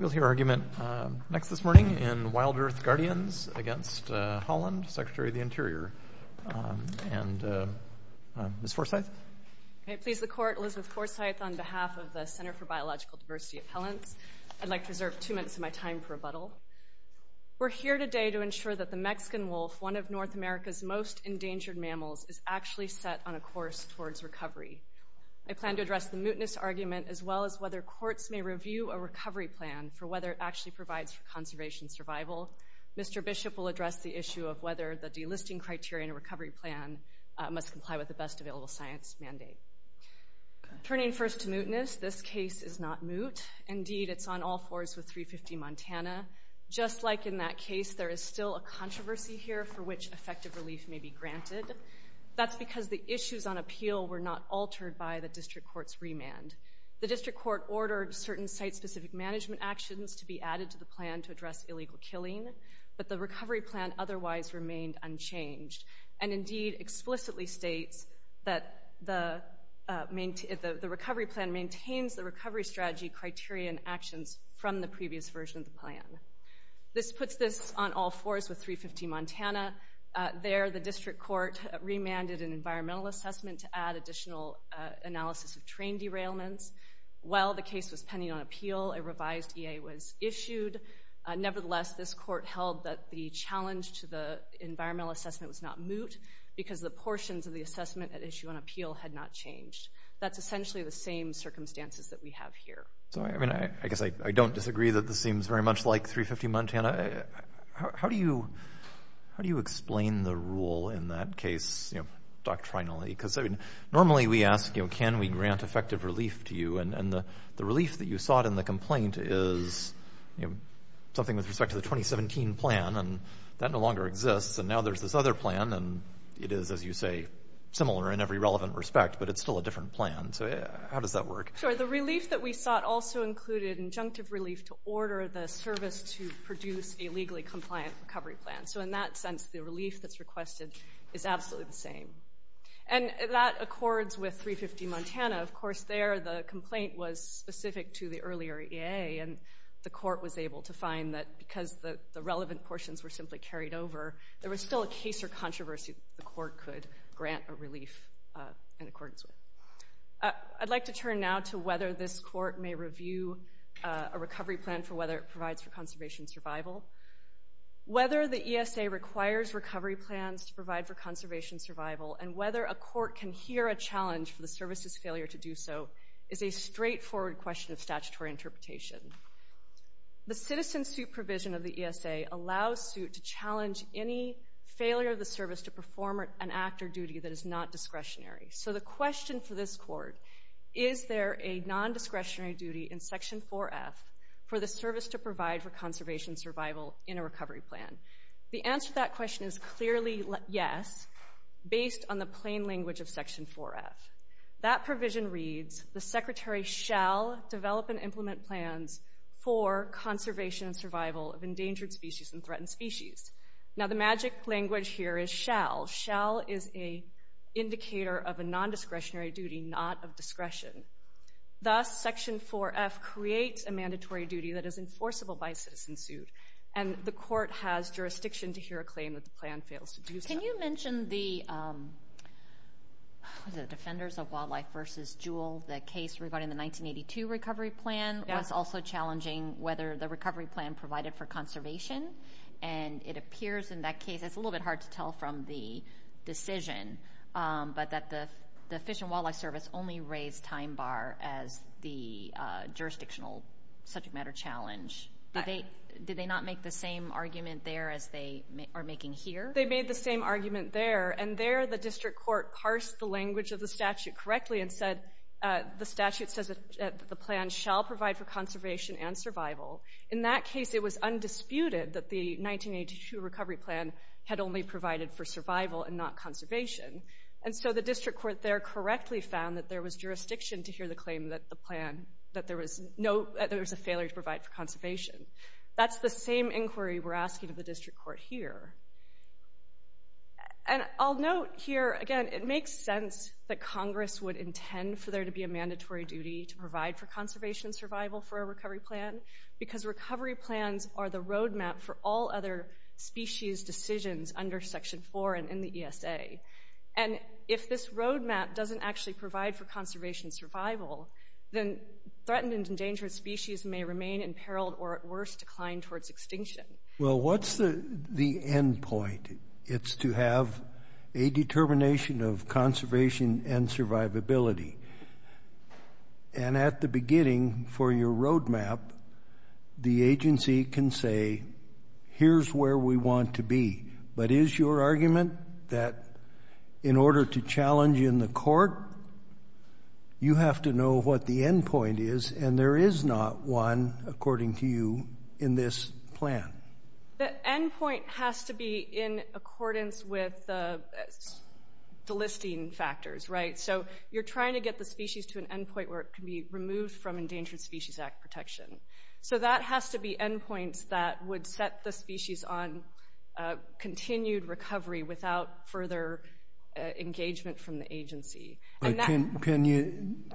We'll hear argument next this morning in WILDEARTH Guardians against Haaland, Secretary of the Interior, and Ms. Forsyth. I please the Court, Elizabeth Forsyth, on behalf of the Center for Biological Diversity at Helens. I'd like to reserve two minutes of my time for rebuttal. We're here today to ensure that the Mexican wolf, one of North America's most endangered mammals, is actually set on a course towards recovery. I plan to address the mootness argument as well as whether courts may review a recovery plan for whether it actually provides for conservation survival. Mr. Bishop will address the issue of whether the delisting criteria in a recovery plan must comply with the best available science mandate. Turning first to mootness, this case is not moot. Indeed, it's on all fours with 350 Montana. Just like in that case, there is still a controversy here for which effective relief may be granted. That's because the issues on appeal were not altered by the district court's remand. The district court ordered certain site-specific management actions to be added to the plan to address illegal killing, but the recovery plan otherwise remained unchanged. Indeed, it explicitly states that the recovery plan maintains the recovery strategy criteria and actions from the previous version of the plan. This puts this on all fours with 350 Montana. There, the district court remanded an environmental assessment to add additional analysis of terrain derailments. While the case was pending on appeal, a revised EA was issued. Nevertheless, this court held that the challenge to the environmental assessment was not moot because the portions of the assessment at issue on appeal had not changed. That's essentially the same circumstances that we have here. So, I mean, I guess I don't disagree that this seems very much like 350 Montana. How do you explain the rule in that case, you know, doctrinally? Because, I mean, normally we ask, you know, can we grant effective relief to you? And the relief that you sought in the complaint is, you know, something with respect to the 2017 plan, and that no longer exists. And now there's this other plan, and it is, as you say, similar in every relevant respect, but it's still a different plan. So how does that work? Sure, the relief that we sought also included injunctive relief to order the service to produce a legally compliant recovery plan. So in that sense, the relief that's requested is absolutely the same. And that accords with 350 Montana. Of course, there the complaint was specific to the earlier EA, and the court was able to find that because the relevant portions were simply carried over, there was still a case or controversy that the court could grant a relief in accordance with. I'd like to turn now to whether this court may review a recovery plan for whether it provides for conservation survival. Whether the ESA requires recovery plans to provide for conservation survival and whether a court can hear a challenge for the service's failure to do so is a straightforward question of statutory interpretation. The citizen suit provision of the ESA allows suit to challenge any failure of the service to perform an act or duty that is not discretionary. So the question for this court, is there a non-discretionary duty in Section 4F for the service to provide for conservation survival in a recovery plan? The answer to that question is clearly yes, based on the plain language of Section 4F. That provision reads, the secretary shall develop and implement plans for conservation and survival of endangered species and threatened species. Shall is an indicator of a non-discretionary duty, not of discretion. Thus, Section 4F creates a mandatory duty that is enforceable by a citizen suit, and the court has jurisdiction to hear a claim that the plan fails to do so. Can you mention the Defenders of Wildlife v. Jewell? The case regarding the 1982 recovery plan was also challenging whether the recovery plan provided for conservation, and it appears in that case, it's a little bit hard to tell from the decision, but that the Fish and Wildlife Service only raised time bar as the jurisdictional subject matter challenge. Did they not make the same argument there as they are making here? They made the same argument there, and there the district court parsed the language of the statute correctly and said, the statute says that the plan shall provide for conservation and survival. In that case, it was undisputed that the 1982 recovery plan had only provided for survival and not conservation, and so the district court there correctly found that there was jurisdiction to hear the claim that the plan, that there was a failure to provide for conservation. That's the same inquiry we're asking of the district court here. And I'll note here, again, it makes sense that Congress would intend for there to be a mandatory duty to provide for conservation and survival for a recovery plan, because recovery plans are the road map for all other species decisions under Section 4 and in the ESA. And if this road map doesn't actually provide for conservation and survival, then threatened and endangered species may remain imperiled or, at worst, decline towards extinction. Well, what's the end point? It's to have a determination of conservation and survivability. And at the beginning for your road map, the agency can say, here's where we want to be. But is your argument that in order to challenge in the court, you have to know what the end point is, and there is not one, according to you, in this plan? The end point has to be in accordance with the listing factors, right? So you're trying to get the species to an end point where it can be removed from Endangered Species Act protection. So that has to be end points that would set the species on continued recovery without further engagement from the agency. Can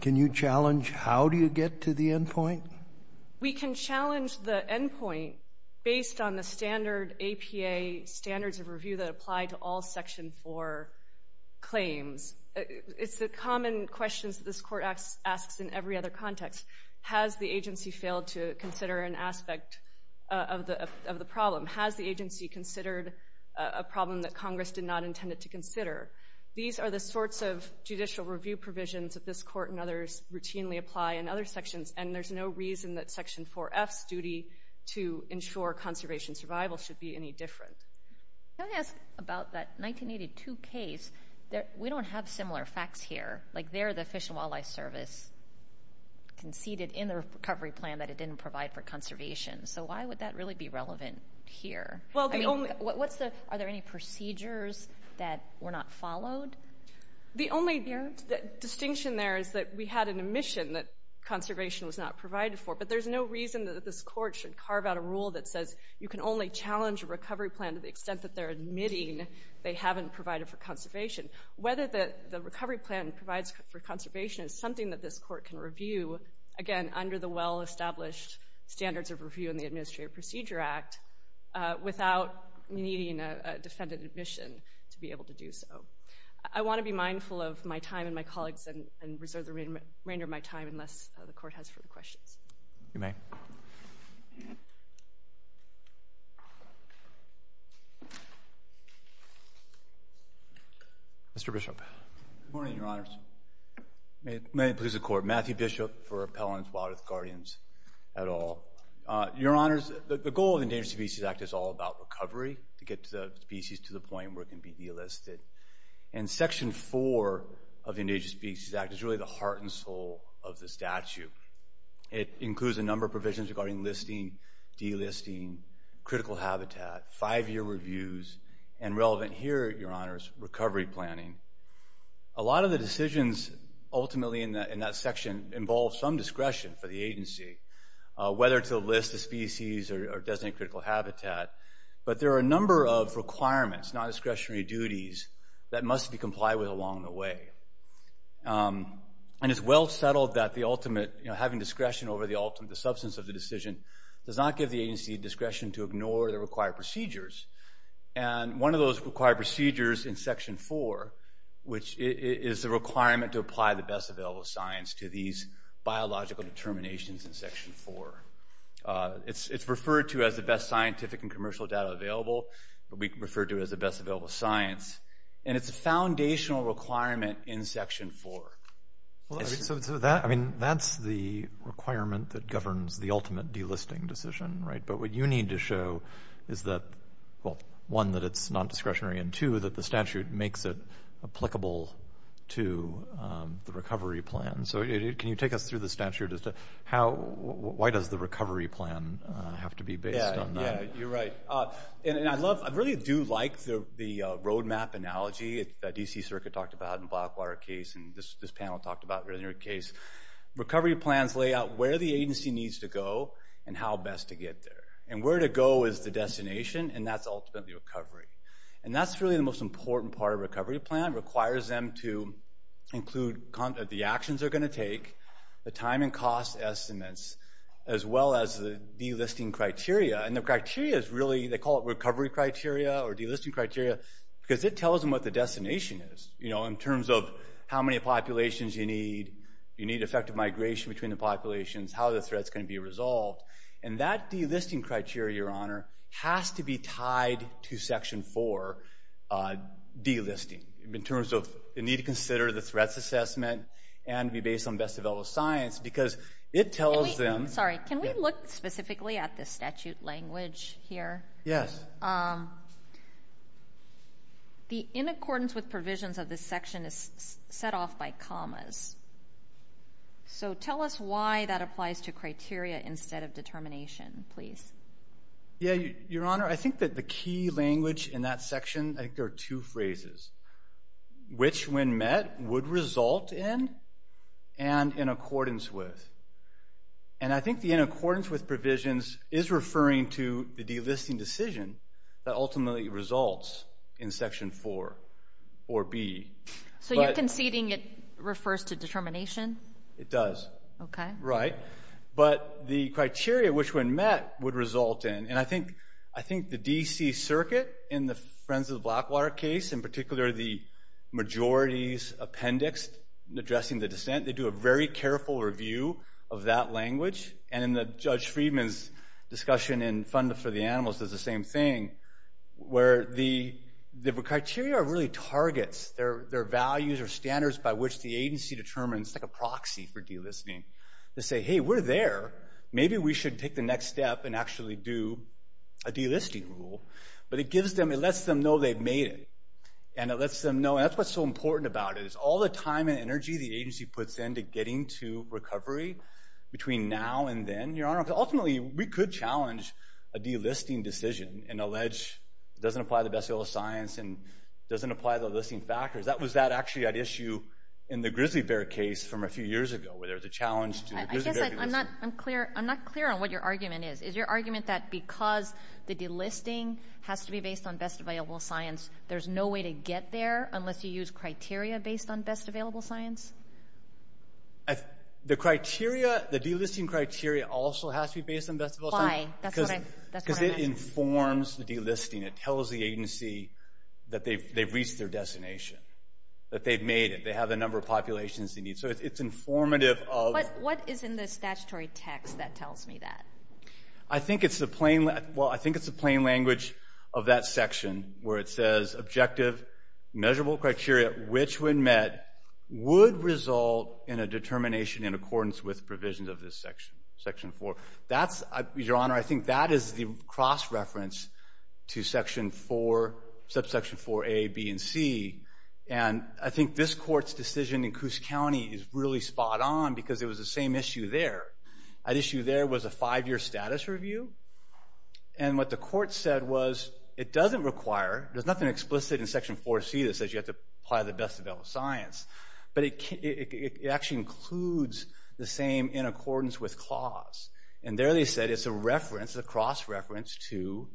you challenge how do you get to the end point? We can challenge the end point based on the standard APA standards of review that apply to all Section 4 claims. It's the common questions that this court asks in every other context. Has the agency failed to consider an aspect of the problem? Has the agency considered a problem that Congress did not intend it to consider? These are the sorts of judicial review provisions that this court and others routinely apply in other sections, and there's no reason that Section 4F's duty to ensure conservation and survival should be any different. Can I ask about that 1982 case? We don't have similar facts here. Like there the Fish and Wildlife Service conceded in the recovery plan that it didn't provide for conservation. So why would that really be relevant here? Are there any procedures that were not followed? The only distinction there is that we had an omission that conservation was not provided for, but there's no reason that this court should carve out a rule that says you can only challenge a recovery plan to the extent that they're admitting they haven't provided for conservation. Whether the recovery plan provides for conservation is something that this court can review, again, under the well-established standards of review in the Administrative Procedure Act, without needing a defendant admission to be able to do so. I want to be mindful of my time and my colleagues' and reserve the remainder of my time unless the court has further questions. You may. Mr. Bishop. Good morning, Your Honors. May it please the Court. Matthew Bishop for Appellants, Wildlife, and Guardians et al. Your Honors, the goal of the Endangered Species Act is all about recovery to get the species to the point where it can be delisted, and Section 4 of the Endangered Species Act is really the heart and soul of the statute. It includes a number of provisions regarding listing, delisting, critical habitat, five-year reviews, and relevant here, Your Honors, recovery planning. A lot of the decisions ultimately in that section involve some discretion for the agency, whether to list the species or designate critical habitat, but there are a number of requirements, non-discretionary duties, that must be complied with along the way. And it's well settled that having discretion over the ultimate substance of the decision does not give the agency discretion to ignore the required procedures. And one of those required procedures in Section 4, which is the requirement to apply the best available science to these biological determinations in Section 4, it's referred to as the best scientific and commercial data available, but we refer to it as the best available science, and it's a foundational requirement in Section 4. So that's the requirement that governs the ultimate delisting decision, right? But what you need to show is that, well, one, that it's non-discretionary, and two, that the statute makes it applicable to the recovery plan. So can you take us through the statute? Why does the recovery plan have to be based on that? Yeah, you're right. I really do like the roadmap analogy that D.C. Circuit talked about in the Blackwater case and this panel talked about earlier in the case. Recovery plans lay out where the agency needs to go and how best to get there. And where to go is the destination, and that's ultimately recovery. And that's really the most important part of a recovery plan. It requires them to include the actions they're going to take, the time and cost estimates, as well as the delisting criteria. And the criteria is really, they call it recovery criteria or delisting criteria because it tells them what the destination is, you know, in terms of how many populations you need, you need effective migration between the populations, how the threat's going to be resolved. And that delisting criteria, Your Honor, has to be tied to Section 4 delisting. In terms of the need to consider the threats assessment and be based on best developed science because it tells them. Sorry, can we look specifically at the statute language here? Yes. The in accordance with provisions of this section is set off by commas. So tell us why that applies to criteria instead of determination, please. Yeah, Your Honor, I think that the key language in that section, I think there are two phrases, which when met would result in and in accordance with. And I think the in accordance with provisions is referring to the delisting decision that ultimately results in Section 4 or B. So you're conceding it refers to determination? It does. Okay. Right. But the criteria which when met would result in, and I think the D.C. Circuit in the Friends of the Blackwater case, in particular the majority's appendix addressing the dissent, they do a very careful review of that language. And in Judge Friedman's discussion in Fund for the Animals does the same thing where the criteria really targets their values or standards by which the agency determines, and it's like a proxy for delisting, to say, hey, we're there. Maybe we should take the next step and actually do a delisting rule. But it gives them, it lets them know they've made it. And it lets them know, and that's what's so important about it, is all the time and energy the agency puts into getting to recovery between now and then, Your Honor, because ultimately we could challenge a delisting decision and allege it doesn't apply to the best of all science and doesn't apply to the listing factors. That was actually an issue in the grizzly bear case from a few years ago where there was a challenge to the grizzly bear delisting. I guess I'm not clear on what your argument is. Is your argument that because the delisting has to be based on best available science, there's no way to get there unless you use criteria based on best available science? The criteria, the delisting criteria also has to be based on best available science. Why? That's what I'm asking. It informs the delisting. It tells the agency that they've reached their destination, that they've made it, they have the number of populations they need. So it's informative of... But what is in the statutory text that tells me that? I think it's the plain language of that section where it says objective measurable criteria which when met would result in a determination in accordance with provisions of this section, section 4. Your Honor, I think that is the cross-reference to subsection 4a, b, and c. And I think this court's decision in Coos County is really spot on because it was the same issue there. That issue there was a five-year status review. And what the court said was it doesn't require... There's nothing explicit in section 4c that says you have to apply the best available science. But it actually includes the same in accordance with clause. And there they said it's a reference, a cross-reference, to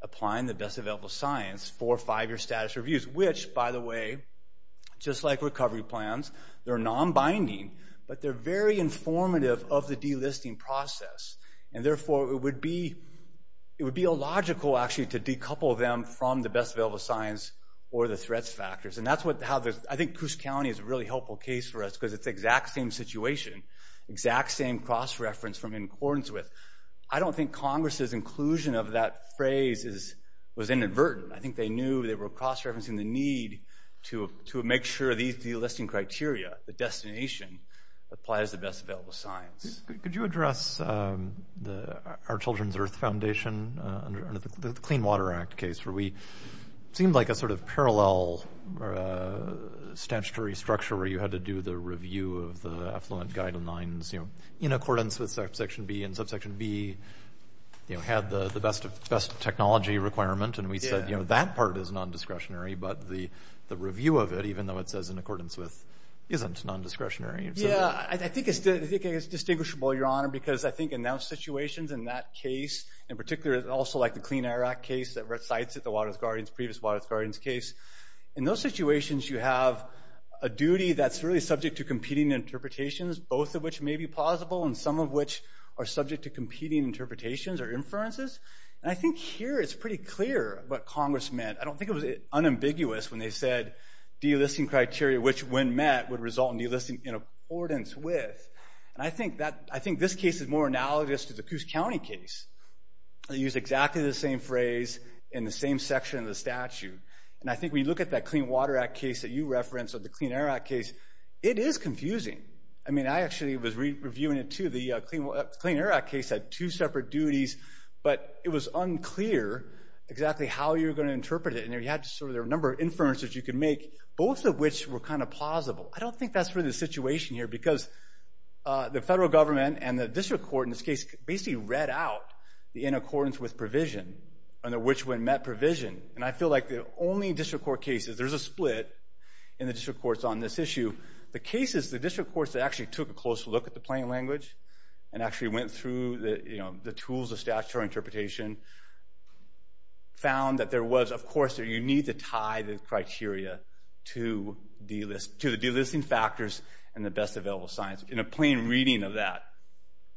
applying the best available science for five-year status reviews, which, by the way, just like recovery plans, they're non-binding, but they're very informative of the delisting process. And therefore, it would be illogical, actually, to decouple them from the best available science or the threats factors. I think Coos County is a really helpful case for us because it's the exact same situation, exact same cross-reference from in accordance with. I don't think Congress's inclusion of that phrase was inadvertent. I think they knew they were cross-referencing the need to make sure these delisting criteria, the destination, applies the best available science. Could you address our Children's Earth Foundation under the Clean Water Act case where we seemed like a sort of parallel statutory structure where you had to do the review of the Affluent Guidelines in accordance with subsection B, and subsection B had the best technology requirement, and we said that part is non-discretionary, but the review of it, even though it says in accordance with, isn't non-discretionary. Yeah, I think it's distinguishable, Your Honor, because I think in those situations, in that case, in particular, also like the Clean Air Act case that recites it, the previous Waters Gardens case, in those situations you have a duty that's really subject to competing interpretations, both of which may be plausible, and some of which are subject to competing interpretations or inferences. And I think here it's pretty clear what Congress meant. I don't think it was unambiguous when they said delisting criteria, which when met would result in delisting in accordance with. And I think this case is more analogous to the Coos County case. They use exactly the same phrase in the same section of the statute. And I think when you look at that Clean Water Act case that you referenced or the Clean Air Act case, it is confusing. I mean, I actually was reviewing it, too. The Clean Air Act case had two separate duties, but it was unclear exactly how you were going to interpret it, and there were a number of inferences you could make, both of which were kind of plausible. I don't think that's really the situation here because the federal government and the district court in this case basically read out the in accordance with provision and which one met provision. And I feel like the only district court cases, there's a split in the district courts on this issue, the cases the district courts that actually took a closer look at the plain language and actually went through the tools of statutory interpretation found that there was, of course, you need to tie the criteria to the delisting factors and the best available science in a plain reading of that.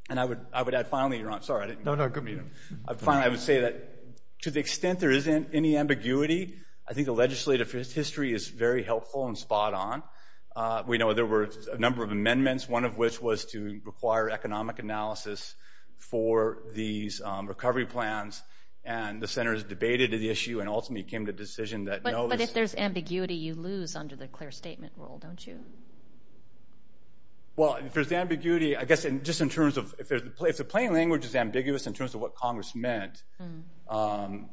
And I would add, finally, you're on. Sorry, I didn't mean to. No, no, good meeting. Finally, I would say that to the extent there isn't any ambiguity, I think the legislative history is very helpful and spot on. We know there were a number of amendments, one of which was to require economic analysis for these recovery plans, and the Senate has debated the issue and ultimately came to a decision that no. But if there's ambiguity, you lose under the clear statement rule, don't you? Well, if there's ambiguity, I guess just in terms of if the plain language is ambiguous in terms of what Congress meant, then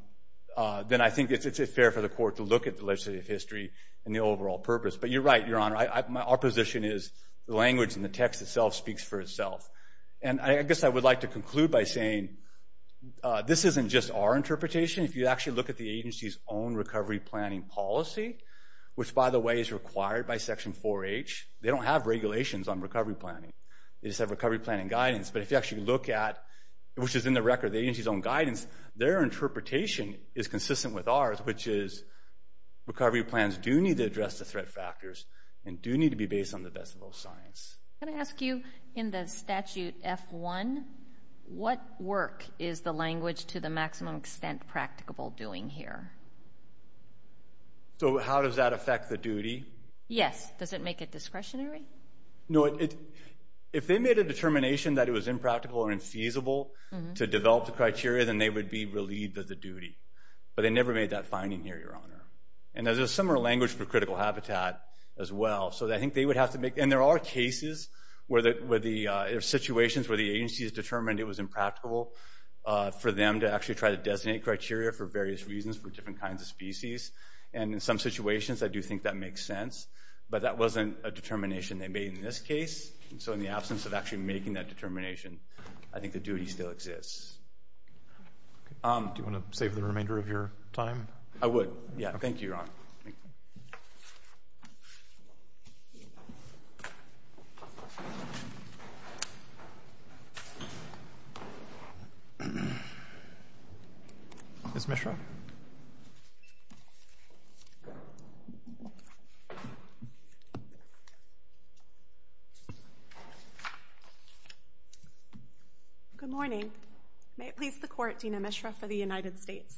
I think it's fair for the court to look at the legislative history and the overall purpose. But you're right, Your Honor. Our position is the language and the text itself speaks for itself. And I guess I would like to conclude by saying this isn't just our interpretation. If you actually look at the agency's own recovery planning policy, which, by the way, is required by Section 4H, they don't have regulations on recovery planning. They just have recovery planning guidance. But if you actually look at, which is in the record, the agency's own guidance, their interpretation is consistent with ours, which is recovery plans do need to address the threat factors and do need to be based on the best of both sides. Can I ask you, in the statute F-1, what work is the language to the maximum extent practicable doing here? So how does that affect the duty? Yes. Does it make it discretionary? No, if they made a determination that it was impractical or infeasible to develop the criteria, then they would be relieved of the duty. But they never made that finding here, Your Honor. And there's a similar language for critical habitat as well. So I think they would have to make – and there are cases where the – there are situations where the agency has determined it was impracticable for them to actually try to designate criteria for various reasons for different kinds of species. And in some situations, I do think that makes sense. But that wasn't a determination they made in this case. And so in the absence of actually making that determination, I think the duty still exists. Do you want to save the remainder of your time? I would. Thank you, Your Honor. Ms. Mishra? Good morning. May it please the Court, Dean Mishra for the United States.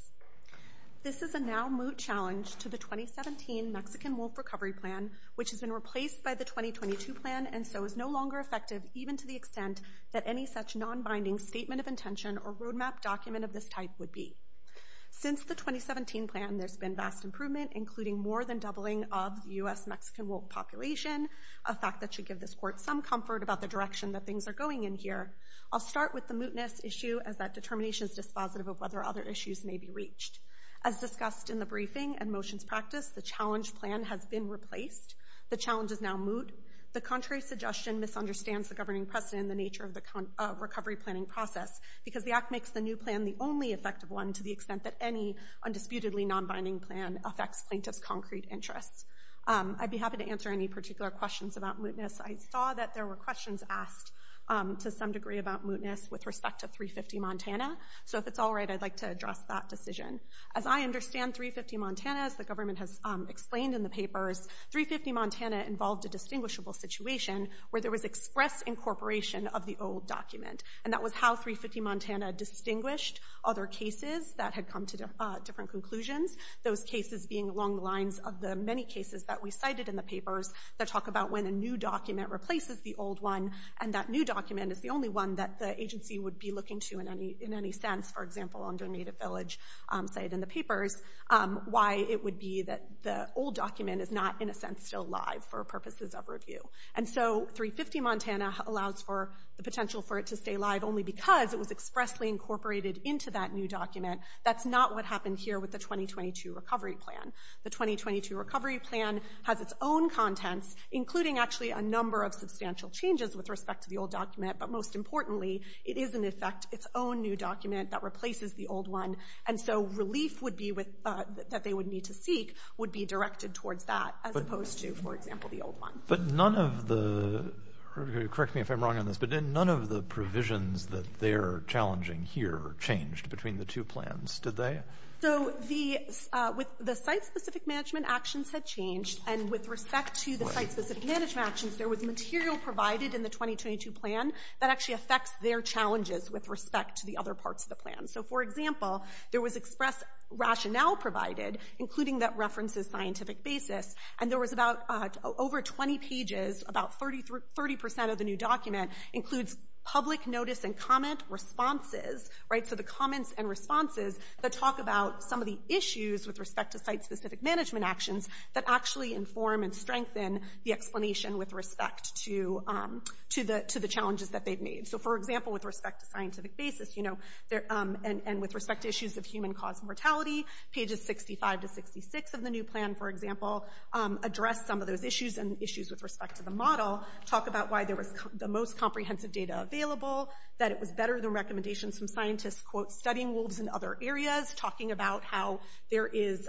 This is a now moot challenge to the 2017 Mexican wolf recovery plan, which has been replaced by the 2022 plan and so is no longer effective even to the extent that any such nonbinding statement of intention or roadmap document of this type would be. Since the 2017 plan, there's been vast improvement, including more than doubling of the U.S. Mexican wolf population, a fact that should give this Court some comfort about the direction that things are going in here. I'll start with the mootness issue as that determination is dispositive of whether other issues may be reached. As discussed in the briefing and motions practiced, the challenge plan has been replaced. The challenge is now moot. The contrary suggestion misunderstands the governing precedent and the nature of the recovery planning process because the Act makes the new plan the only effective one to the extent that any undisputedly nonbinding plan affects plaintiff's concrete interests. I'd be happy to answer any particular questions about mootness. I saw that there were questions asked to some degree about mootness with respect to 350 Montana. So if it's all right, I'd like to address that decision. As I understand 350 Montana, as the government has explained in the papers, 350 Montana involved a distinguishable situation where there was express incorporation of the old document. And that was how 350 Montana distinguished other cases that had come to different conclusions, those cases being along the lines of the many cases that we cited in the papers that talk about when a new document replaces the old one and that new document is the only one that the agency would be looking to in any sense, for example, under Native Village cited in the papers, why it would be that the old document is not, in a sense, still live for purposes of review. And so 350 Montana allows for the potential for it to stay live only because it was expressly incorporated into that new document. That's not what happened here with the 2022 recovery plan. The 2022 recovery plan has its own contents, including actually a number of substantial changes with respect to the old document. But most importantly, it is, in effect, its own new document that replaces the old one. And so relief that they would need to seek would be directed towards that, as opposed to, for example, the old one. But none of the... Correct me if I'm wrong on this, but none of the provisions that they're challenging here changed between the two plans, did they? So the site-specific management actions had changed, and with respect to the site-specific management actions, there was material provided in the 2022 plan that actually affects their challenges with respect to the other parts of the plan. So, for example, there was express rationale provided, including that references scientific basis, and there was about... Over 20 pages, about 30% of the new document, includes public notice and comment responses, right? So the comments and responses that talk about some of the issues with respect to site-specific management actions that actually inform and strengthen the explanation with respect to the challenges that they've made. So, for example, with respect to scientific basis, and with respect to issues of human-caused mortality, pages 65 to 66 of the new plan, for example, address some of those issues, and issues with respect to the model, talk about why there was the most comprehensive data available, that it was better than recommendations from scientists studying wolves in other areas, talking about how there is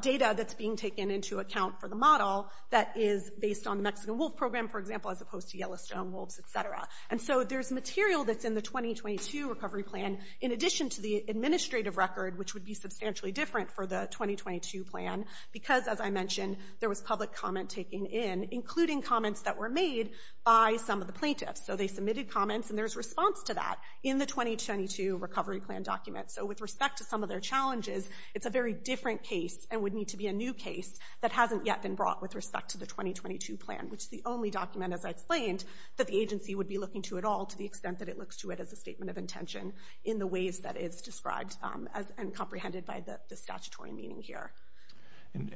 data that's being taken into account for the model that is based on the Mexican wolf program, for example, as opposed to Yellowstone wolves, et cetera. And so there's material that's in the 2022 recovery plan, in addition to the administrative record, which would be substantially different for the 2022 plan, because, as I mentioned, there was public comment taken in, including comments that were made by some of the plaintiffs. So they submitted comments, and there's response to that in the 2022 recovery plan document. So with respect to some of their challenges, it's a very different case, and would need to be a new case, that hasn't yet been brought with respect to the 2022 plan, which is the only document, as I explained, that the agency would be looking to at all, to the extent that it looks to it as a statement of intention, in the ways that it's described and comprehended by the statutory meaning here. And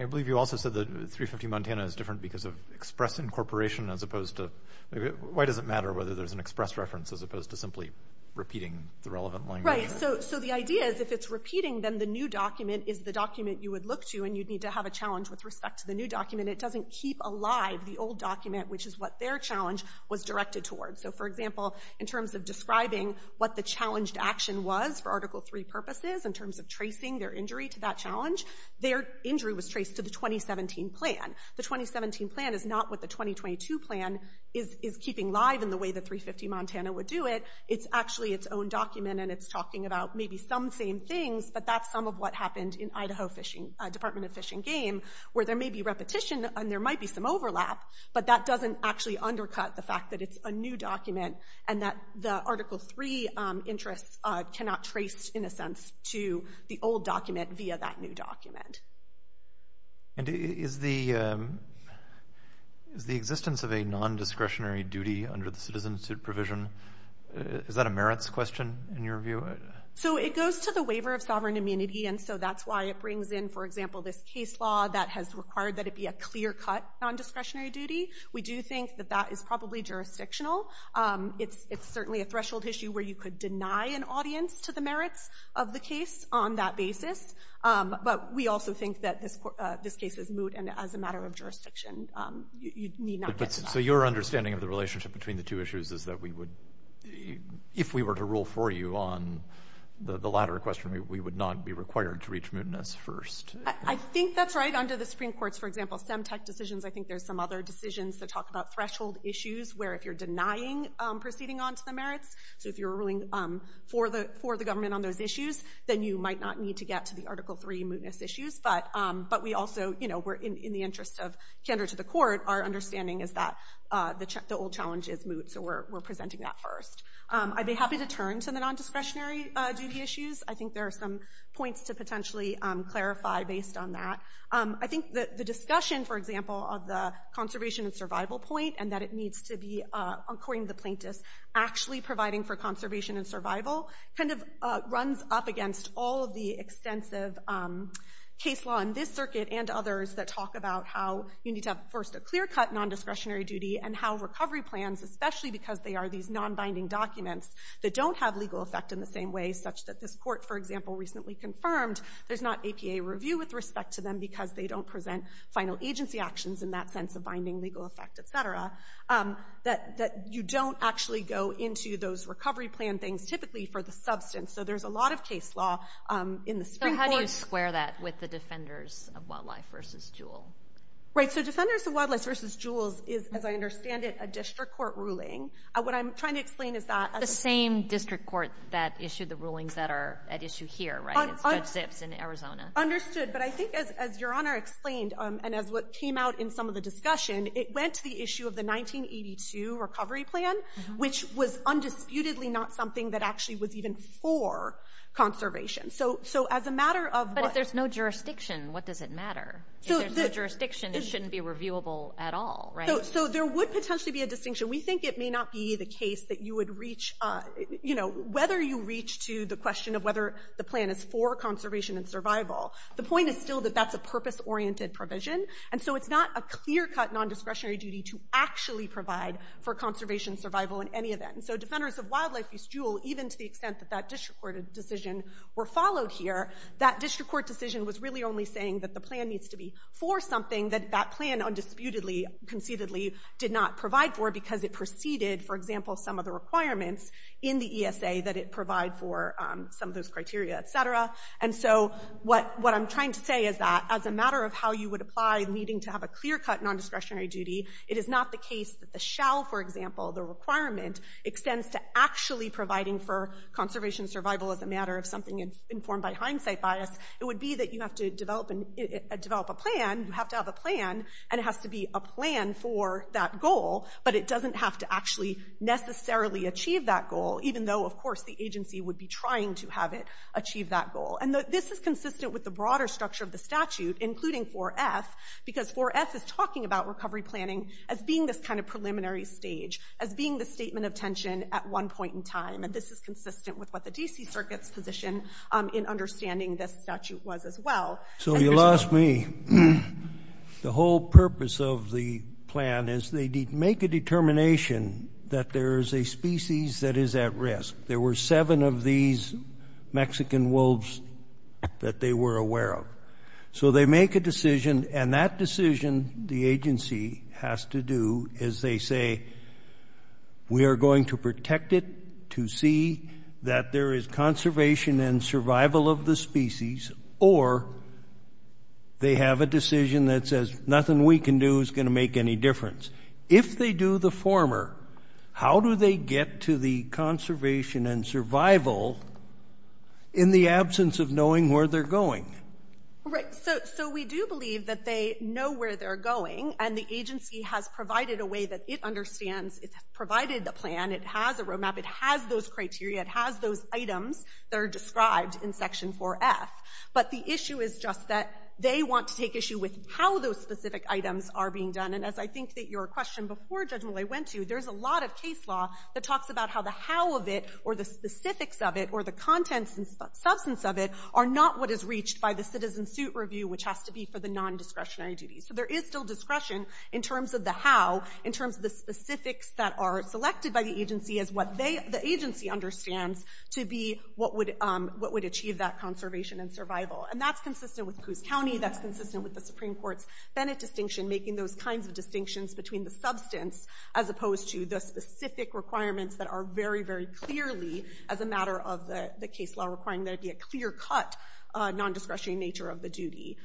I believe you also said that 350 Montana is different because of express incorporation, as opposed to... Why does it matter whether there's an express reference as opposed to simply repeating the relevant language? Right. So the idea is, if it's repeating, then the new document is the document you would look to, and you'd need to have a challenge with respect to the new document. It doesn't keep alive the old document, which is what their challenge was directed towards. So, for example, in terms of describing what the challenged action was for Article III purposes, in terms of tracing their injury to that challenge, their injury was traced to the 2017 plan. The 2017 plan is not what the 2022 plan is keeping live in the way that 350 Montana would do it. It's actually its own document, and it's talking about maybe some same things, but that's some of what happened in Idaho Department of Fish and Game, where there may be repetition, and there might be some overlap, but that doesn't actually undercut the fact that it's a new document and that the Article III interests cannot trace, in a sense, to the old document via that new document. And is the existence of a non-discretionary duty under the Citizen Institute provision, is that a merits question, in your view? So it goes to the waiver of sovereign immunity, and so that's why it brings in, for example, this case law that has required that it be a clear-cut non-discretionary duty. We do think that that is probably jurisdictional. It's certainly a threshold issue where you could deny an audience to the merits of the case on that basis, but we also think that this case is moot, and as a matter of jurisdiction, you need not get denied. So your understanding of the relationship between the two issues is that we would, if we were to rule for you on the latter question, we would not be required to reach mootness first? I think that's right. Under the Supreme Court's, for example, SEMTEC decisions, I think there's some other decisions that talk about threshold issues where if you're denying proceeding onto the merits, so if you're ruling for the government on those issues, then you might not need to get to the Article III mootness issues, but we also, you know, we're in the interest of candor to the court. Our understanding is that the old challenge is moot, so we're presenting that first. I'd be happy to turn to the nondiscretionary duty issues. I think there are some points to potentially clarify based on that. I think that the discussion, for example, of the conservation and survival point and that it needs to be, according to the plaintiffs, actually providing for conservation and survival kind of runs up against all of the extensive case law in this circuit and others that talk about how you need to have, first, a clear-cut nondiscretionary duty and how recovery plans, especially because they are these nonbinding documents that don't have legal effect in the same way, such that this court, for example, recently confirmed there's not APA review with respect to them because they don't present final agency actions in that sense of binding legal effect, et cetera, that you don't actually go into those recovery plan things typically for the substance, so there's a lot of case law in the Supreme Court. How do you square that with the Defenders of Wildlife v. Jewel? Right, so Defenders of Wildlife v. Jewel is, as I understand it, a district court ruling. What I'm trying to explain is that... The same district court that issued the rulings that are at issue here, right? It's Judge Zips in Arizona. Understood, but I think, as Your Honor explained and as what came out in some of the discussion, it went to the issue of the 1982 recovery plan, which was undisputedly not something that actually was even for conservation. So as a matter of... But if there's no jurisdiction, what does it matter? If there's no jurisdiction, it shouldn't be reviewable at all, right? So there would potentially be a distinction. We think it may not be the case that you would reach... You know, whether you reach to the question of whether the plan is for conservation and survival. The point is still that that's a purpose-oriented provision, and so it's not a clear-cut nondiscretionary duty to actually provide for conservation and survival in any event, and so Defenders of Wildlife v. Jewel, even to the extent that that district court decision were followed here, that district court decision was really only saying that the plan needs to be for something that that plan undisputedly, conceitedly, did not provide for because it preceded, for example, some of the requirements in the ESA that it provide for some of those criteria, et cetera. And so what I'm trying to say is that, as a matter of how you would apply needing to have a clear-cut nondiscretionary duty, it is not the case that the shall, for example, the requirement, extends to actually providing for conservation and survival as a matter of something informed by hindsight bias. It would be that you have to develop a plan, you have to have a plan, and it has to be a plan for that goal, but it doesn't have to actually necessarily achieve that goal, even though, of course, the agency would be trying to have it achieve that goal. And this is consistent with the broader structure of the statute, including 4F, because 4F is talking about recovery planning as being this kind of preliminary stage, as being the statement of tension at one point in time, and this is consistent with what the D.C. Circuit's position in understanding this statute was as well. So you lost me. The whole purpose of the plan is they make a determination that there is a species that is at risk. There were seven of these Mexican wolves that they were aware of. So they make a decision, and that decision the agency has to do is they say, we are going to protect it to see that there is conservation and survival of the species, or they have a decision that says nothing we can do is going to make any difference. If they do the former, how do they get to the conservation and survival in the absence of knowing where they're going? Right. So we do believe that they know where they're going, and the agency has provided a way that it understands, it's provided the plan, it has a road map, it has those criteria, it has those items that are described in Section 4F. But the issue is just that they want to take issue with how those specific items are being done. And as I think that your question before Judge Mollet went to, there's a lot of case law that talks about how the how of it or the specifics of it or the contents and substance of it are not what is reached by the citizen suit review, which has to be for the nondiscretionary duties. So there is still discretion in terms of the how, in terms of the specifics that are selected by the agency as what the agency understands to be what would achieve that conservation and survival. And that's consistent with Coos County, that's consistent with the Supreme Court's Bennett distinction, making those kinds of distinctions between the substance as opposed to the specific requirements that are very, very clearly, as a matter of the case law, requiring there to be a clear-cut nondiscretionary nature of the duty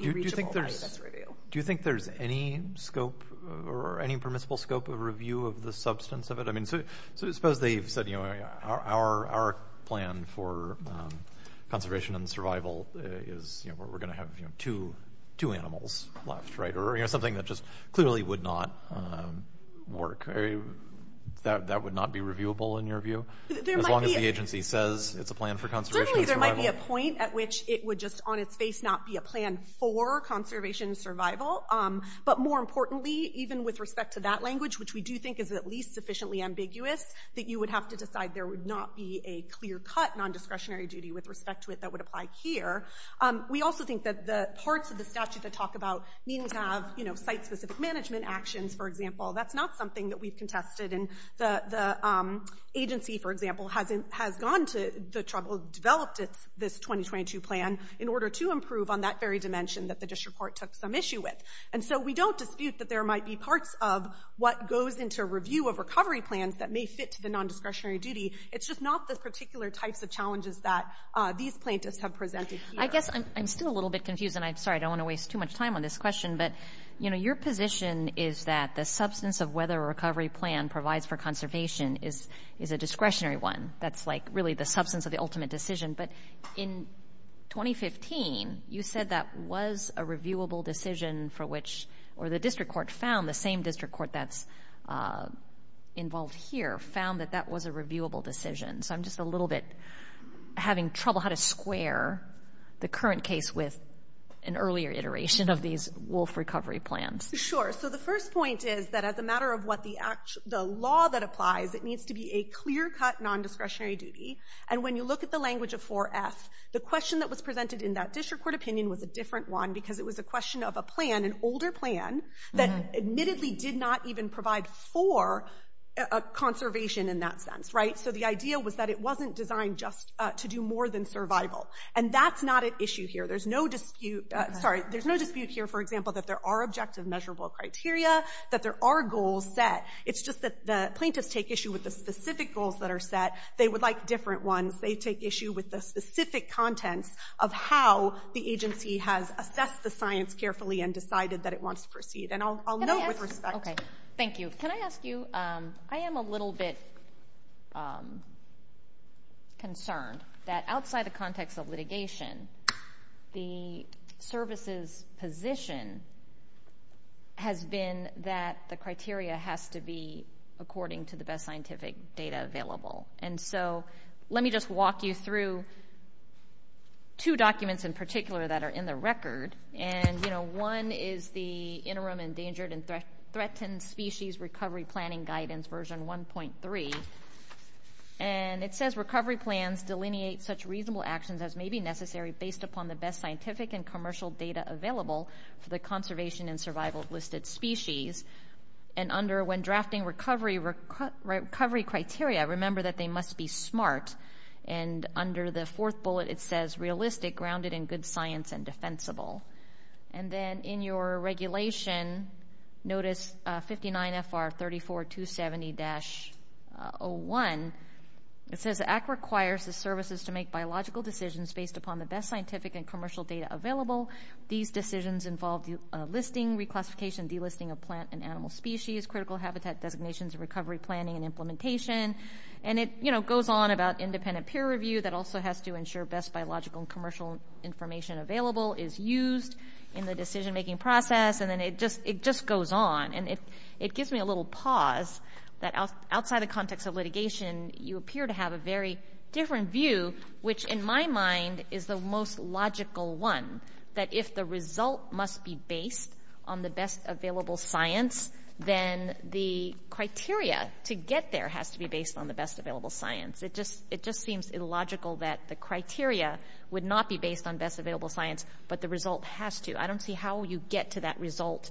be reachable by this review. Do you think there's any scope or any permissible scope of review of the substance of it? I mean, suppose they've said, you know, our plan for conservation and survival is, you know, we're going to have, you know, two animals left, right? Or, you know, something that just clearly would not work. That would not be reviewable, in your view? As long as the agency says it's a plan for conservation and survival. Certainly there might be a point at which it would just, on its face, not be a plan for conservation and survival. But more importantly, even with respect to that language, which we do think is at least sufficiently ambiguous, that you would have to decide there would not be a clear-cut nondiscretionary duty with respect to it that would apply here. We also think that the parts of the statute that talk about needing to have, you know, site-specific management actions, for example, that's not something that we've contested. And the agency, for example, has gone to the trouble of developing this 2022 plan in order to improve on that very dimension that the district court took some issue with. And so we don't dispute that there might be parts of what goes into review of recovery plans that may fit to the nondiscretionary duty. It's just not the particular types of challenges that these plaintiffs have presented here. I guess I'm still a little bit confused, and I'm sorry, I don't want to waste too much time on this question, but, you know, your position is that the substance of whether a recovery plan provides for conservation is a discretionary one. That's, like, really the substance of the ultimate decision. But in 2015, you said that was a reviewable decision for which, or the district court found, the same district court that's involved here, found that that was a reviewable decision. So I'm just a little bit having trouble how to square the current case with an earlier iteration of these wolf recovery plans. Sure. So the first point is that as a matter of what the law that applies, it needs to be a clear-cut nondiscretionary duty. And when you look at the language of 4F, the question that was presented in that district court opinion was a different one because it was a question of a plan, an older plan, that admittedly did not even provide for conservation in that sense, right? So the idea was that it wasn't designed just to do more than survival. And that's not at issue here. There's no dispute here, for example, that there are objective measurable criteria, that there are goals set. It's just that the plaintiffs take issue with the specific goals that are set. They would like different ones. They take issue with the specific contents of how the agency has assessed the science carefully and decided that it wants to proceed. And I'll note with respect... Okay, thank you. Can I ask you? I am a little bit concerned that outside the context of litigation, the service's position has been that the criteria has to be And so let me just walk you through two documents in particular that are in the record. And, you know, one is the Interim Endangered and Threatened Species Recovery Planning Guidance, version 1.3. And it says, Recovery plans delineate such reasonable actions as may be necessary based upon the best scientific and commercial data available for the conservation and survival of listed species. And under when drafting recovery criteria, remember that they must be smart. And under the fourth bullet, it says, Realistic, grounded in good science, and defensible. And then in your regulation, notice 59 FR 34270-01. It says, The Act requires the services to make biological decisions based upon the best scientific and commercial data available. These decisions involve listing, reclassification, delisting of plant and animal species, critical habitat designations, recovery planning and implementation. And it, you know, goes on about independent peer review that also has to ensure best biological and commercial information available is used in the decision-making process. And then it just goes on. And it gives me a little pause that outside the context of litigation, you appear to have a very different view, which in my mind is the most logical one, that if the result must be based on the best available science, then the criteria to get there has to be based on the best available science. It just seems illogical that the criteria would not be based on best available science, but the result has to. I don't see how you get to that result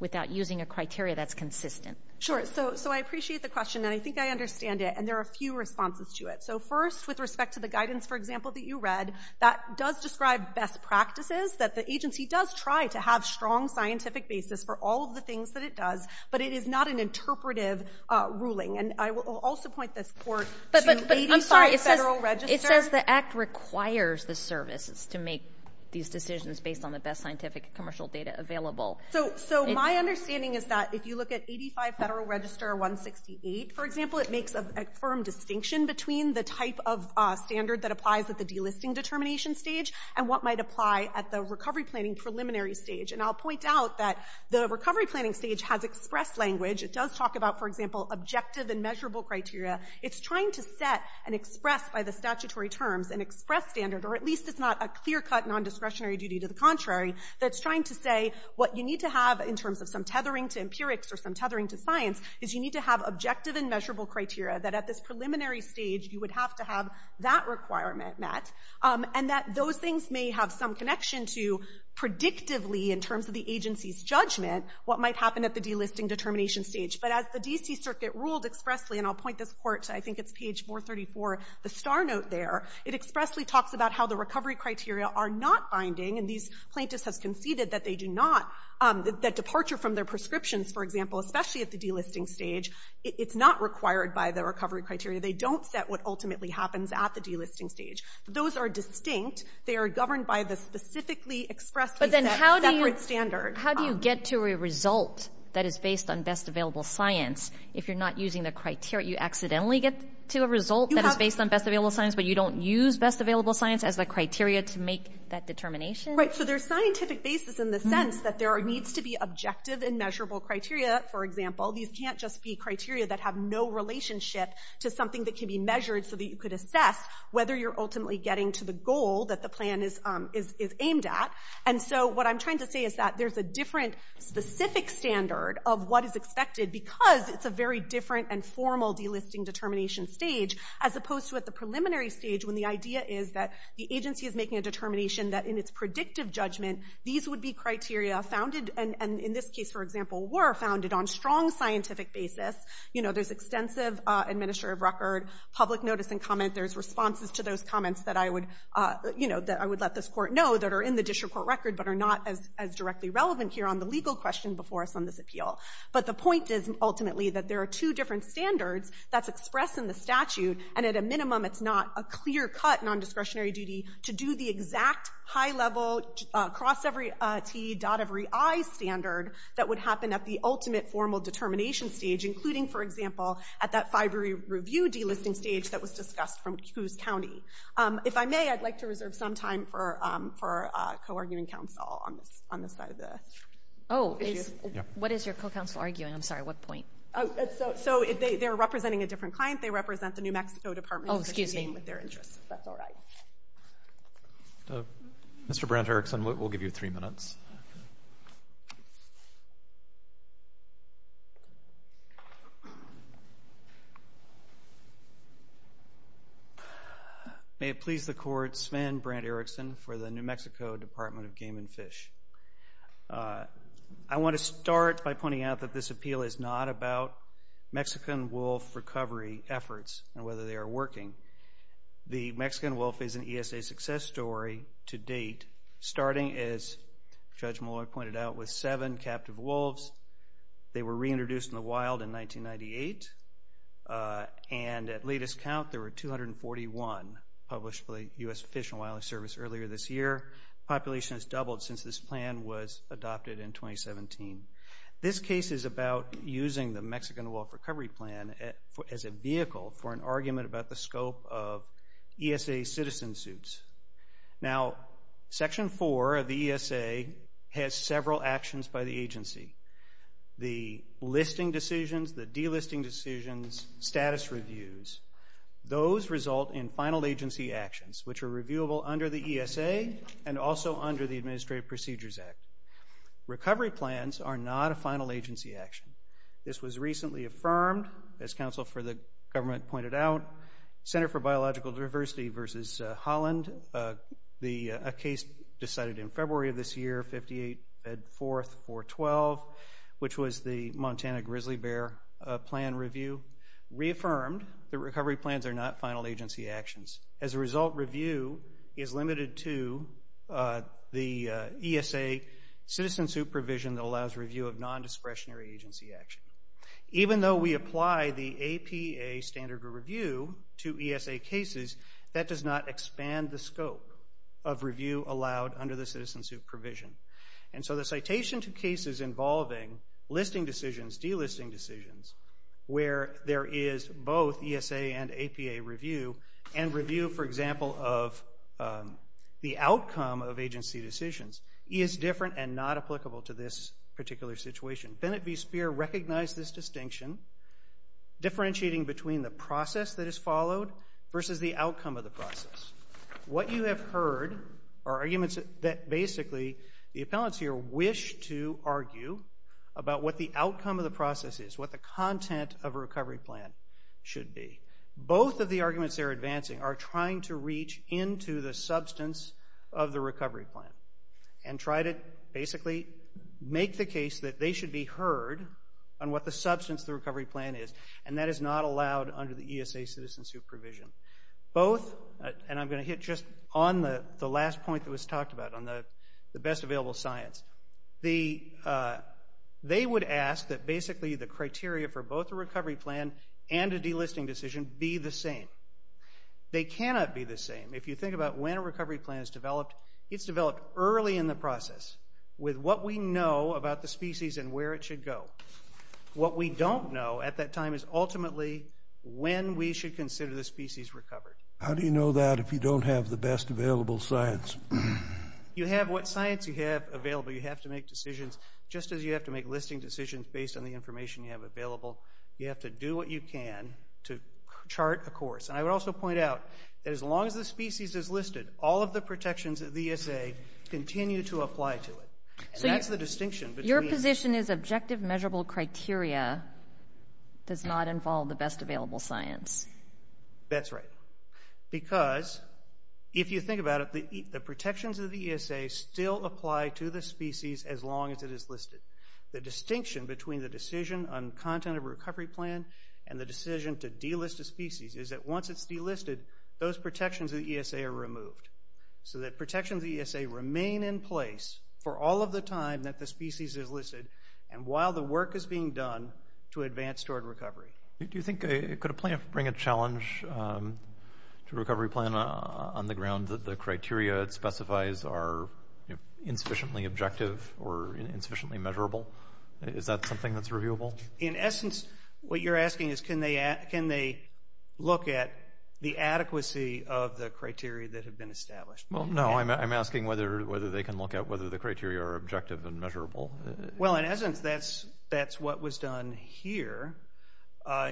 without using a criteria that's consistent. Sure. So I appreciate the question, and I think I understand it, and there are a few responses to it. So first, with respect to the guidance, for example, that you read, that does describe best practices, that the agency does try to have strong scientific basis for all of the things that it does, but it is not an interpretive ruling. And I will also point this court to 85 Federal Register... But I'm sorry, it says the Act requires the services to make these decisions based on the best scientific and commercial data available. So my understanding is that if you look at 85 Federal Register 168, for example, it makes a firm distinction between the type of standard that applies at the delisting determination stage and what might apply at the recovery planning preliminary stage. And I'll point out that the recovery planning stage has expressed language. It does talk about, for example, objective and measurable criteria. It's trying to set and express by the statutory terms an express standard, or at least it's not a clear-cut, non-discretionary duty to the contrary, that's trying to say what you need to have in terms of some tethering to empirics or some tethering to science is you need to have objective and measurable criteria that at this preliminary stage you would have to have that requirement met, and that those things may have some connection to predictively, in terms of the agency's judgment, what might happen at the delisting determination stage. But as the D.C. Circuit ruled expressly, and I'll point this court, I think it's page 434, the star note there, it expressly talks about how the recovery criteria are not binding, and these plaintiffs have conceded that they do not, that departure from their prescriptions, for example, especially at the delisting stage, it's not required by the recovery criteria. They don't set what ultimately happens at the delisting stage. Those are distinct. They are governed by the specifically expressly set separate standard. But then how do you get to a result that is based on best available science if you're not using the criteria? You accidentally get to a result that is based on best available science, but you don't use best available science as the criteria to make that determination? Right, so there's scientific basis in the sense that there needs to be objective and measurable criteria, for example. These can't just be criteria that have no relationship to something that can be measured so that you could assess whether you're ultimately getting to the goal that the plan is aimed at. And so what I'm trying to say is that there's a different specific standard of what is expected because it's a very different and formal delisting determination stage as opposed to at the preliminary stage when the idea is that the agency is making a determination that in its predictive judgment these would be criteria founded, and in this case, for example, were founded on strong scientific basis. You know, there's extensive administrative record, public notice and comment, there's responses to those comments that I would let this court know that are in the district court record but are not as directly relevant here on the legal question before us on this appeal. But the point is, ultimately, that there are two different standards that's expressed in the statute, and at a minimum it's not a clear-cut nondiscretionary duty to do the exact high-level, cross-every-t, dot-every-i standard that would happen at the ultimate and formal determination stage, including, for example, at that FIBRI review delisting stage that was discussed from Coos County. If I may, I'd like to reserve some time for co-arguing counsel on this side of the issue. Oh, what is your co-counsel arguing? I'm sorry, what point? So they're representing a different client, they represent the New Mexico Department with their interests, if that's all right. Mr. Brent Erickson, we'll give you three minutes. Thank you. May it please the Court, Sven Brent Erickson for the New Mexico Department of Game and Fish. I want to start by pointing out that this appeal is not about Mexican wolf recovery efforts and whether they are working. The Mexican wolf is an ESA success story to date, starting as Judge Malloy pointed out, with seven captive wolves. They were reintroduced in the wild in 1998, and at latest count, there were 241 published by the U.S. Fish and Wildlife Service earlier this year. Population has doubled since this plan was adopted in 2017. This case is about using the Mexican wolf recovery plan as a vehicle for an argument about the scope of ESA citizen suits. Now, Section 4 of the ESA has several actions by the agency. The listing decisions, the delisting decisions, status reviews, those result in final agency actions, which are reviewable under the ESA and also under the Administrative Procedures Act. Recovery plans are not a final agency action. This was recently affirmed, as counsel for the government pointed out, Center for Biological Diversity versus Holland, a year 58-4-412, which was the Montana grizzly bear plan review. Reaffirmed, the recovery plans are not final agency actions. As a result, review is limited to the ESA citizen suit provision that allows review of nondiscretionary agency action. Even though we apply the APA standard review to ESA cases, that does not expand the scope of review. And so the citation to cases involving listing decisions, delisting decisions, where there is both ESA and APA review, and review for example of the outcome of agency decisions, is different and not applicable to this particular situation. Bennett v. Speer recognized this distinction, differentiating between the process that is followed versus the outcome of the process. What you have heard are arguments that basically the appellants here wish to argue about what the outcome of the process is, what the content of a recovery plan should be. Both of the arguments they're advancing are trying to reach into the substance of the recovery plan and try to basically make the case that they should be heard on what the substance of the recovery plan is, and that is not allowed under the ESA citizen suit provision. Both, and I'm going to hit just on the last point that was talked about on the best available science. They would ask that basically the criteria for both the recovery plan and a delisting decision be the same. They cannot be the same. If you think about when a recovery plan is developed, it's developed early in the process, with what we know about the species and where it should go. What we don't know at that time is ultimately when we should consider the species recovered. How do you know that if you don't have the best available science? You have what science you have available. You have to make decisions just as you have to make listing decisions based on the information you have available. You have to do what you can to chart a course. And I would also point out that as long as the species is listed, all of the protections of the ESA continue to apply to it. That's the distinction. Your position is objective measurable criteria does not involve the best available science. That's right. Because if you think about it, the protections of the ESA still apply to the species as long as it is listed. The distinction between the decision on content of a recovery plan and the decision to delist a species is that once it's delisted, those protections of the ESA are removed. So that protections of the ESA remain in place for all of the time that the species is listed, and while the work is being done to Could a plan bring a challenge to a recovery plan on the ground that the criteria it specifies are insufficiently objective or insufficiently measurable? Is that something that's reviewable? In essence, what you're asking is can they look at the adequacy of the criteria that have been established? Well, no. I'm asking whether they can look at whether the criteria are objective and measurable. Well, in essence, that's what was done here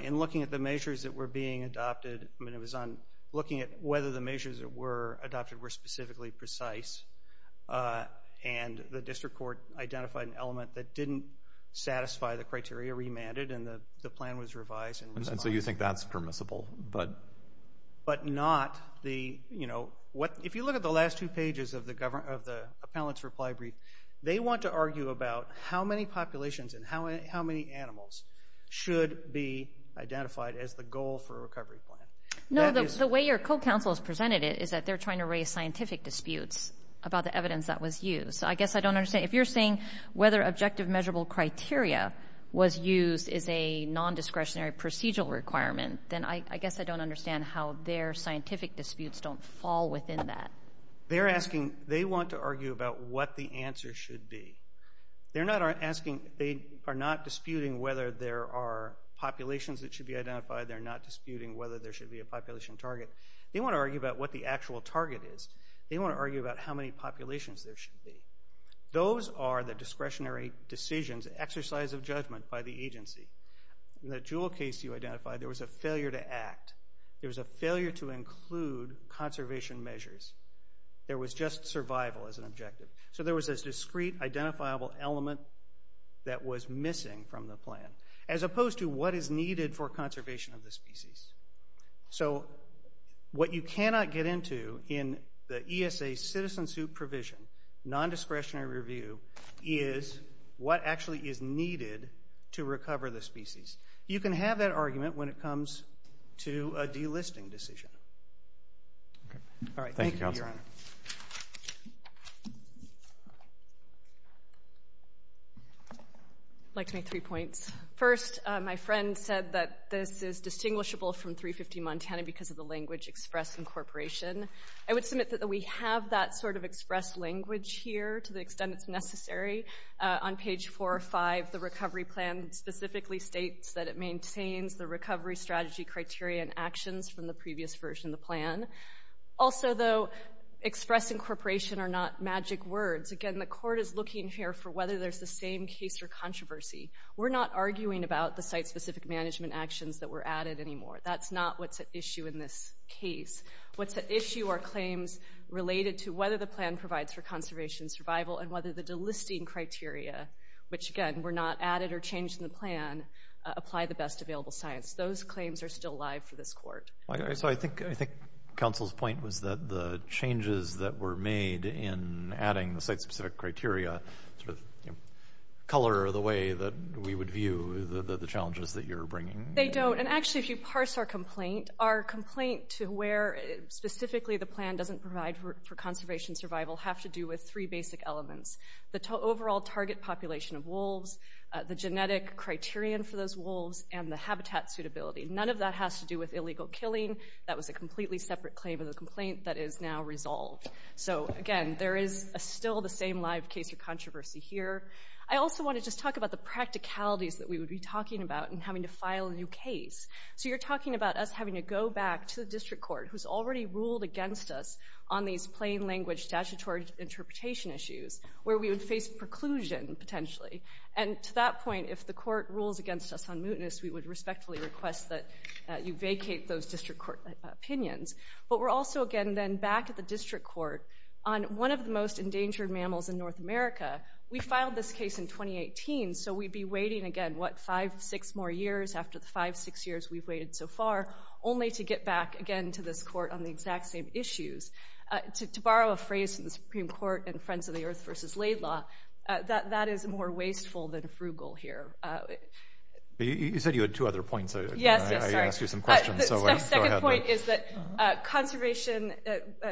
in looking at the measures that were being adopted. I mean, it was on looking at whether the measures that were adopted were specifically precise and the district court identified an element that didn't satisfy the criteria remanded, and the plan was revised And so you think that's permissible, but But not the, you know, if you look at the last two pages of the appellant's reply brief, they want to argue about how many populations and how many animals should be identified as the goal for a recovery plan. The way your co-counsel has presented it is that they're trying to raise scientific disputes about the evidence that was used. So I guess I don't understand. If you're saying whether objective measurable criteria was used as a non-discretionary procedural requirement, then I guess I don't understand how their scientific disputes don't fall within that. They're asking, they want to argue about what the answer should be. They're not asking, they are not disputing whether there are populations that should be identified, they're not disputing whether there should be a population target. They want to argue about what the actual target is. They want to argue about how many populations there should be. Those are the discretionary decisions, exercise of judgment, by the agency. In the Jewell case you identified, there was a failure to act. There was a failure to include conservation measures. There was just survival as an objective. So there was this discrete, identifiable element that was missing from the plan. As opposed to what is needed for conservation of the species. So what you cannot get into in the ESA citizen suit provision, non-discretionary review, is what actually is needed to recover when it comes to a delisting decision. Thank you, Your Honor. I'd like to make three points. First, my friend said that this is distinguishable from 350 Montana because of the language express incorporation. I would submit that we have that sort of express language here to the extent it's necessary. On page 4 or 5, the recovery plan specifically states that it maintains the recovery strategy criteria and actions from the previous version of the plan. Also, though, express incorporation are not magic words. Again, the court is looking here for whether there's the same case or controversy. We're not arguing about the site specific management actions that were added anymore. That's not what's at issue in this case. What's at issue are claims related to whether the plan provides for conservation survival and whether the delisting criteria, which, again, were not added or changed in the plan, apply the best available science. Those claims are still live for this court. So I think counsel's point was that the changes that were made in adding the site specific criteria color the way that we would view the challenges that you're bringing. They don't. And actually, if you parse our complaint, our complaint to where specifically the plan doesn't provide for conservation survival have to do with three basic elements. The overall target population of wolves, the genetic criterion for those wolves, and the habitat suitability. None of that has to do with illegal killing. That was a completely separate claim of the complaint that is now resolved. So, again, there is still the same live case of controversy here. I also want to just talk about the practicalities that we would be talking about in having to file a new case. So you're talking about us having to go back to the district court, who's already ruled against us on these plain language statutory interpretation issues, where we would face preclusion, potentially. And to that point, if the court rules against us on mootness, we would respectfully request that you vacate those district court opinions. But we're also, again, then back at the district court on one of the most endangered mammals in North America. We filed this case in 2018, so we'd be waiting again, what, five, six more years after the five, six years we've waited so far, only to get back again to this court on the exact same issues. To borrow a phrase from the Supreme Court in Friends of the Earth vs. Laidlaw, that is more wasteful than frugal here. You said you had two other points. I asked you some questions. My second point is that conservation,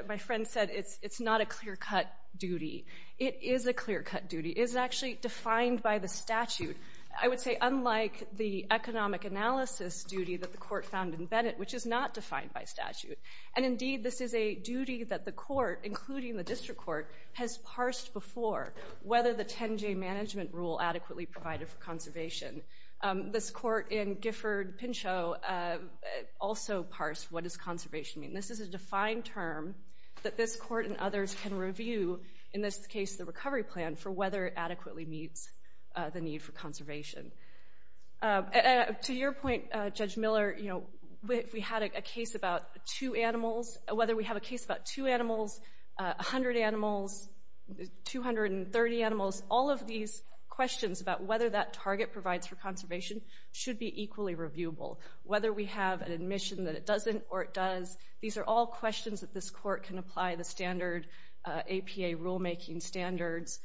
my friend said, it's not a clear-cut duty. It is a clear-cut duty. It is actually defined by the statute. I would say, unlike the economic analysis duty that the court found in Bennett, which is not defined by statute, and indeed this is a duty that the court, including the district court, has parsed before, whether the 10-J management rule adequately provided for conservation. This court in Gifford-Pinchot also parsed what does conservation mean. This is a defined term that this court and others can review, in this case the recovery plan, for whether it adequately meets the need for conservation. To your point, Judge Miller, if we had a case about two animals, whether we have a case about two animals, 100 animals, 230 animals, all of these questions about whether that target provides for conservation should be equally reviewable. Whether we have an admission that it doesn't or it does, these are all questions that this court can apply the standard APA rulemaking standards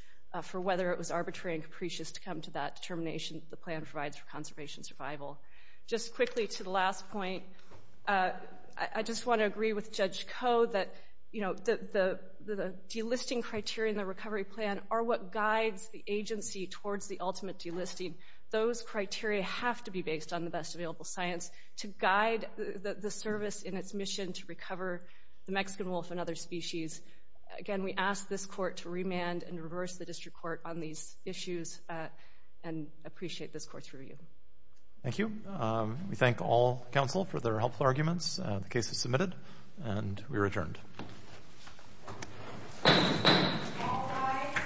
for whether it was arbitrary and capricious to come to that determination that the plan provides for conservation survival. Just quickly to the last point, I just want to agree with Judge Koh that the delisting criteria in the recovery plan are what guides the agency towards the ultimate delisting. Those criteria have to be based on the best available science to guide the service in its mission to recover the Mexican wolf and other species. Again, we ask this court to remand and reverse the district court on these issues and appreciate this court's review. Thank you. We thank all counsel for their helpful arguments. The case is submitted and we are adjourned. Thank you.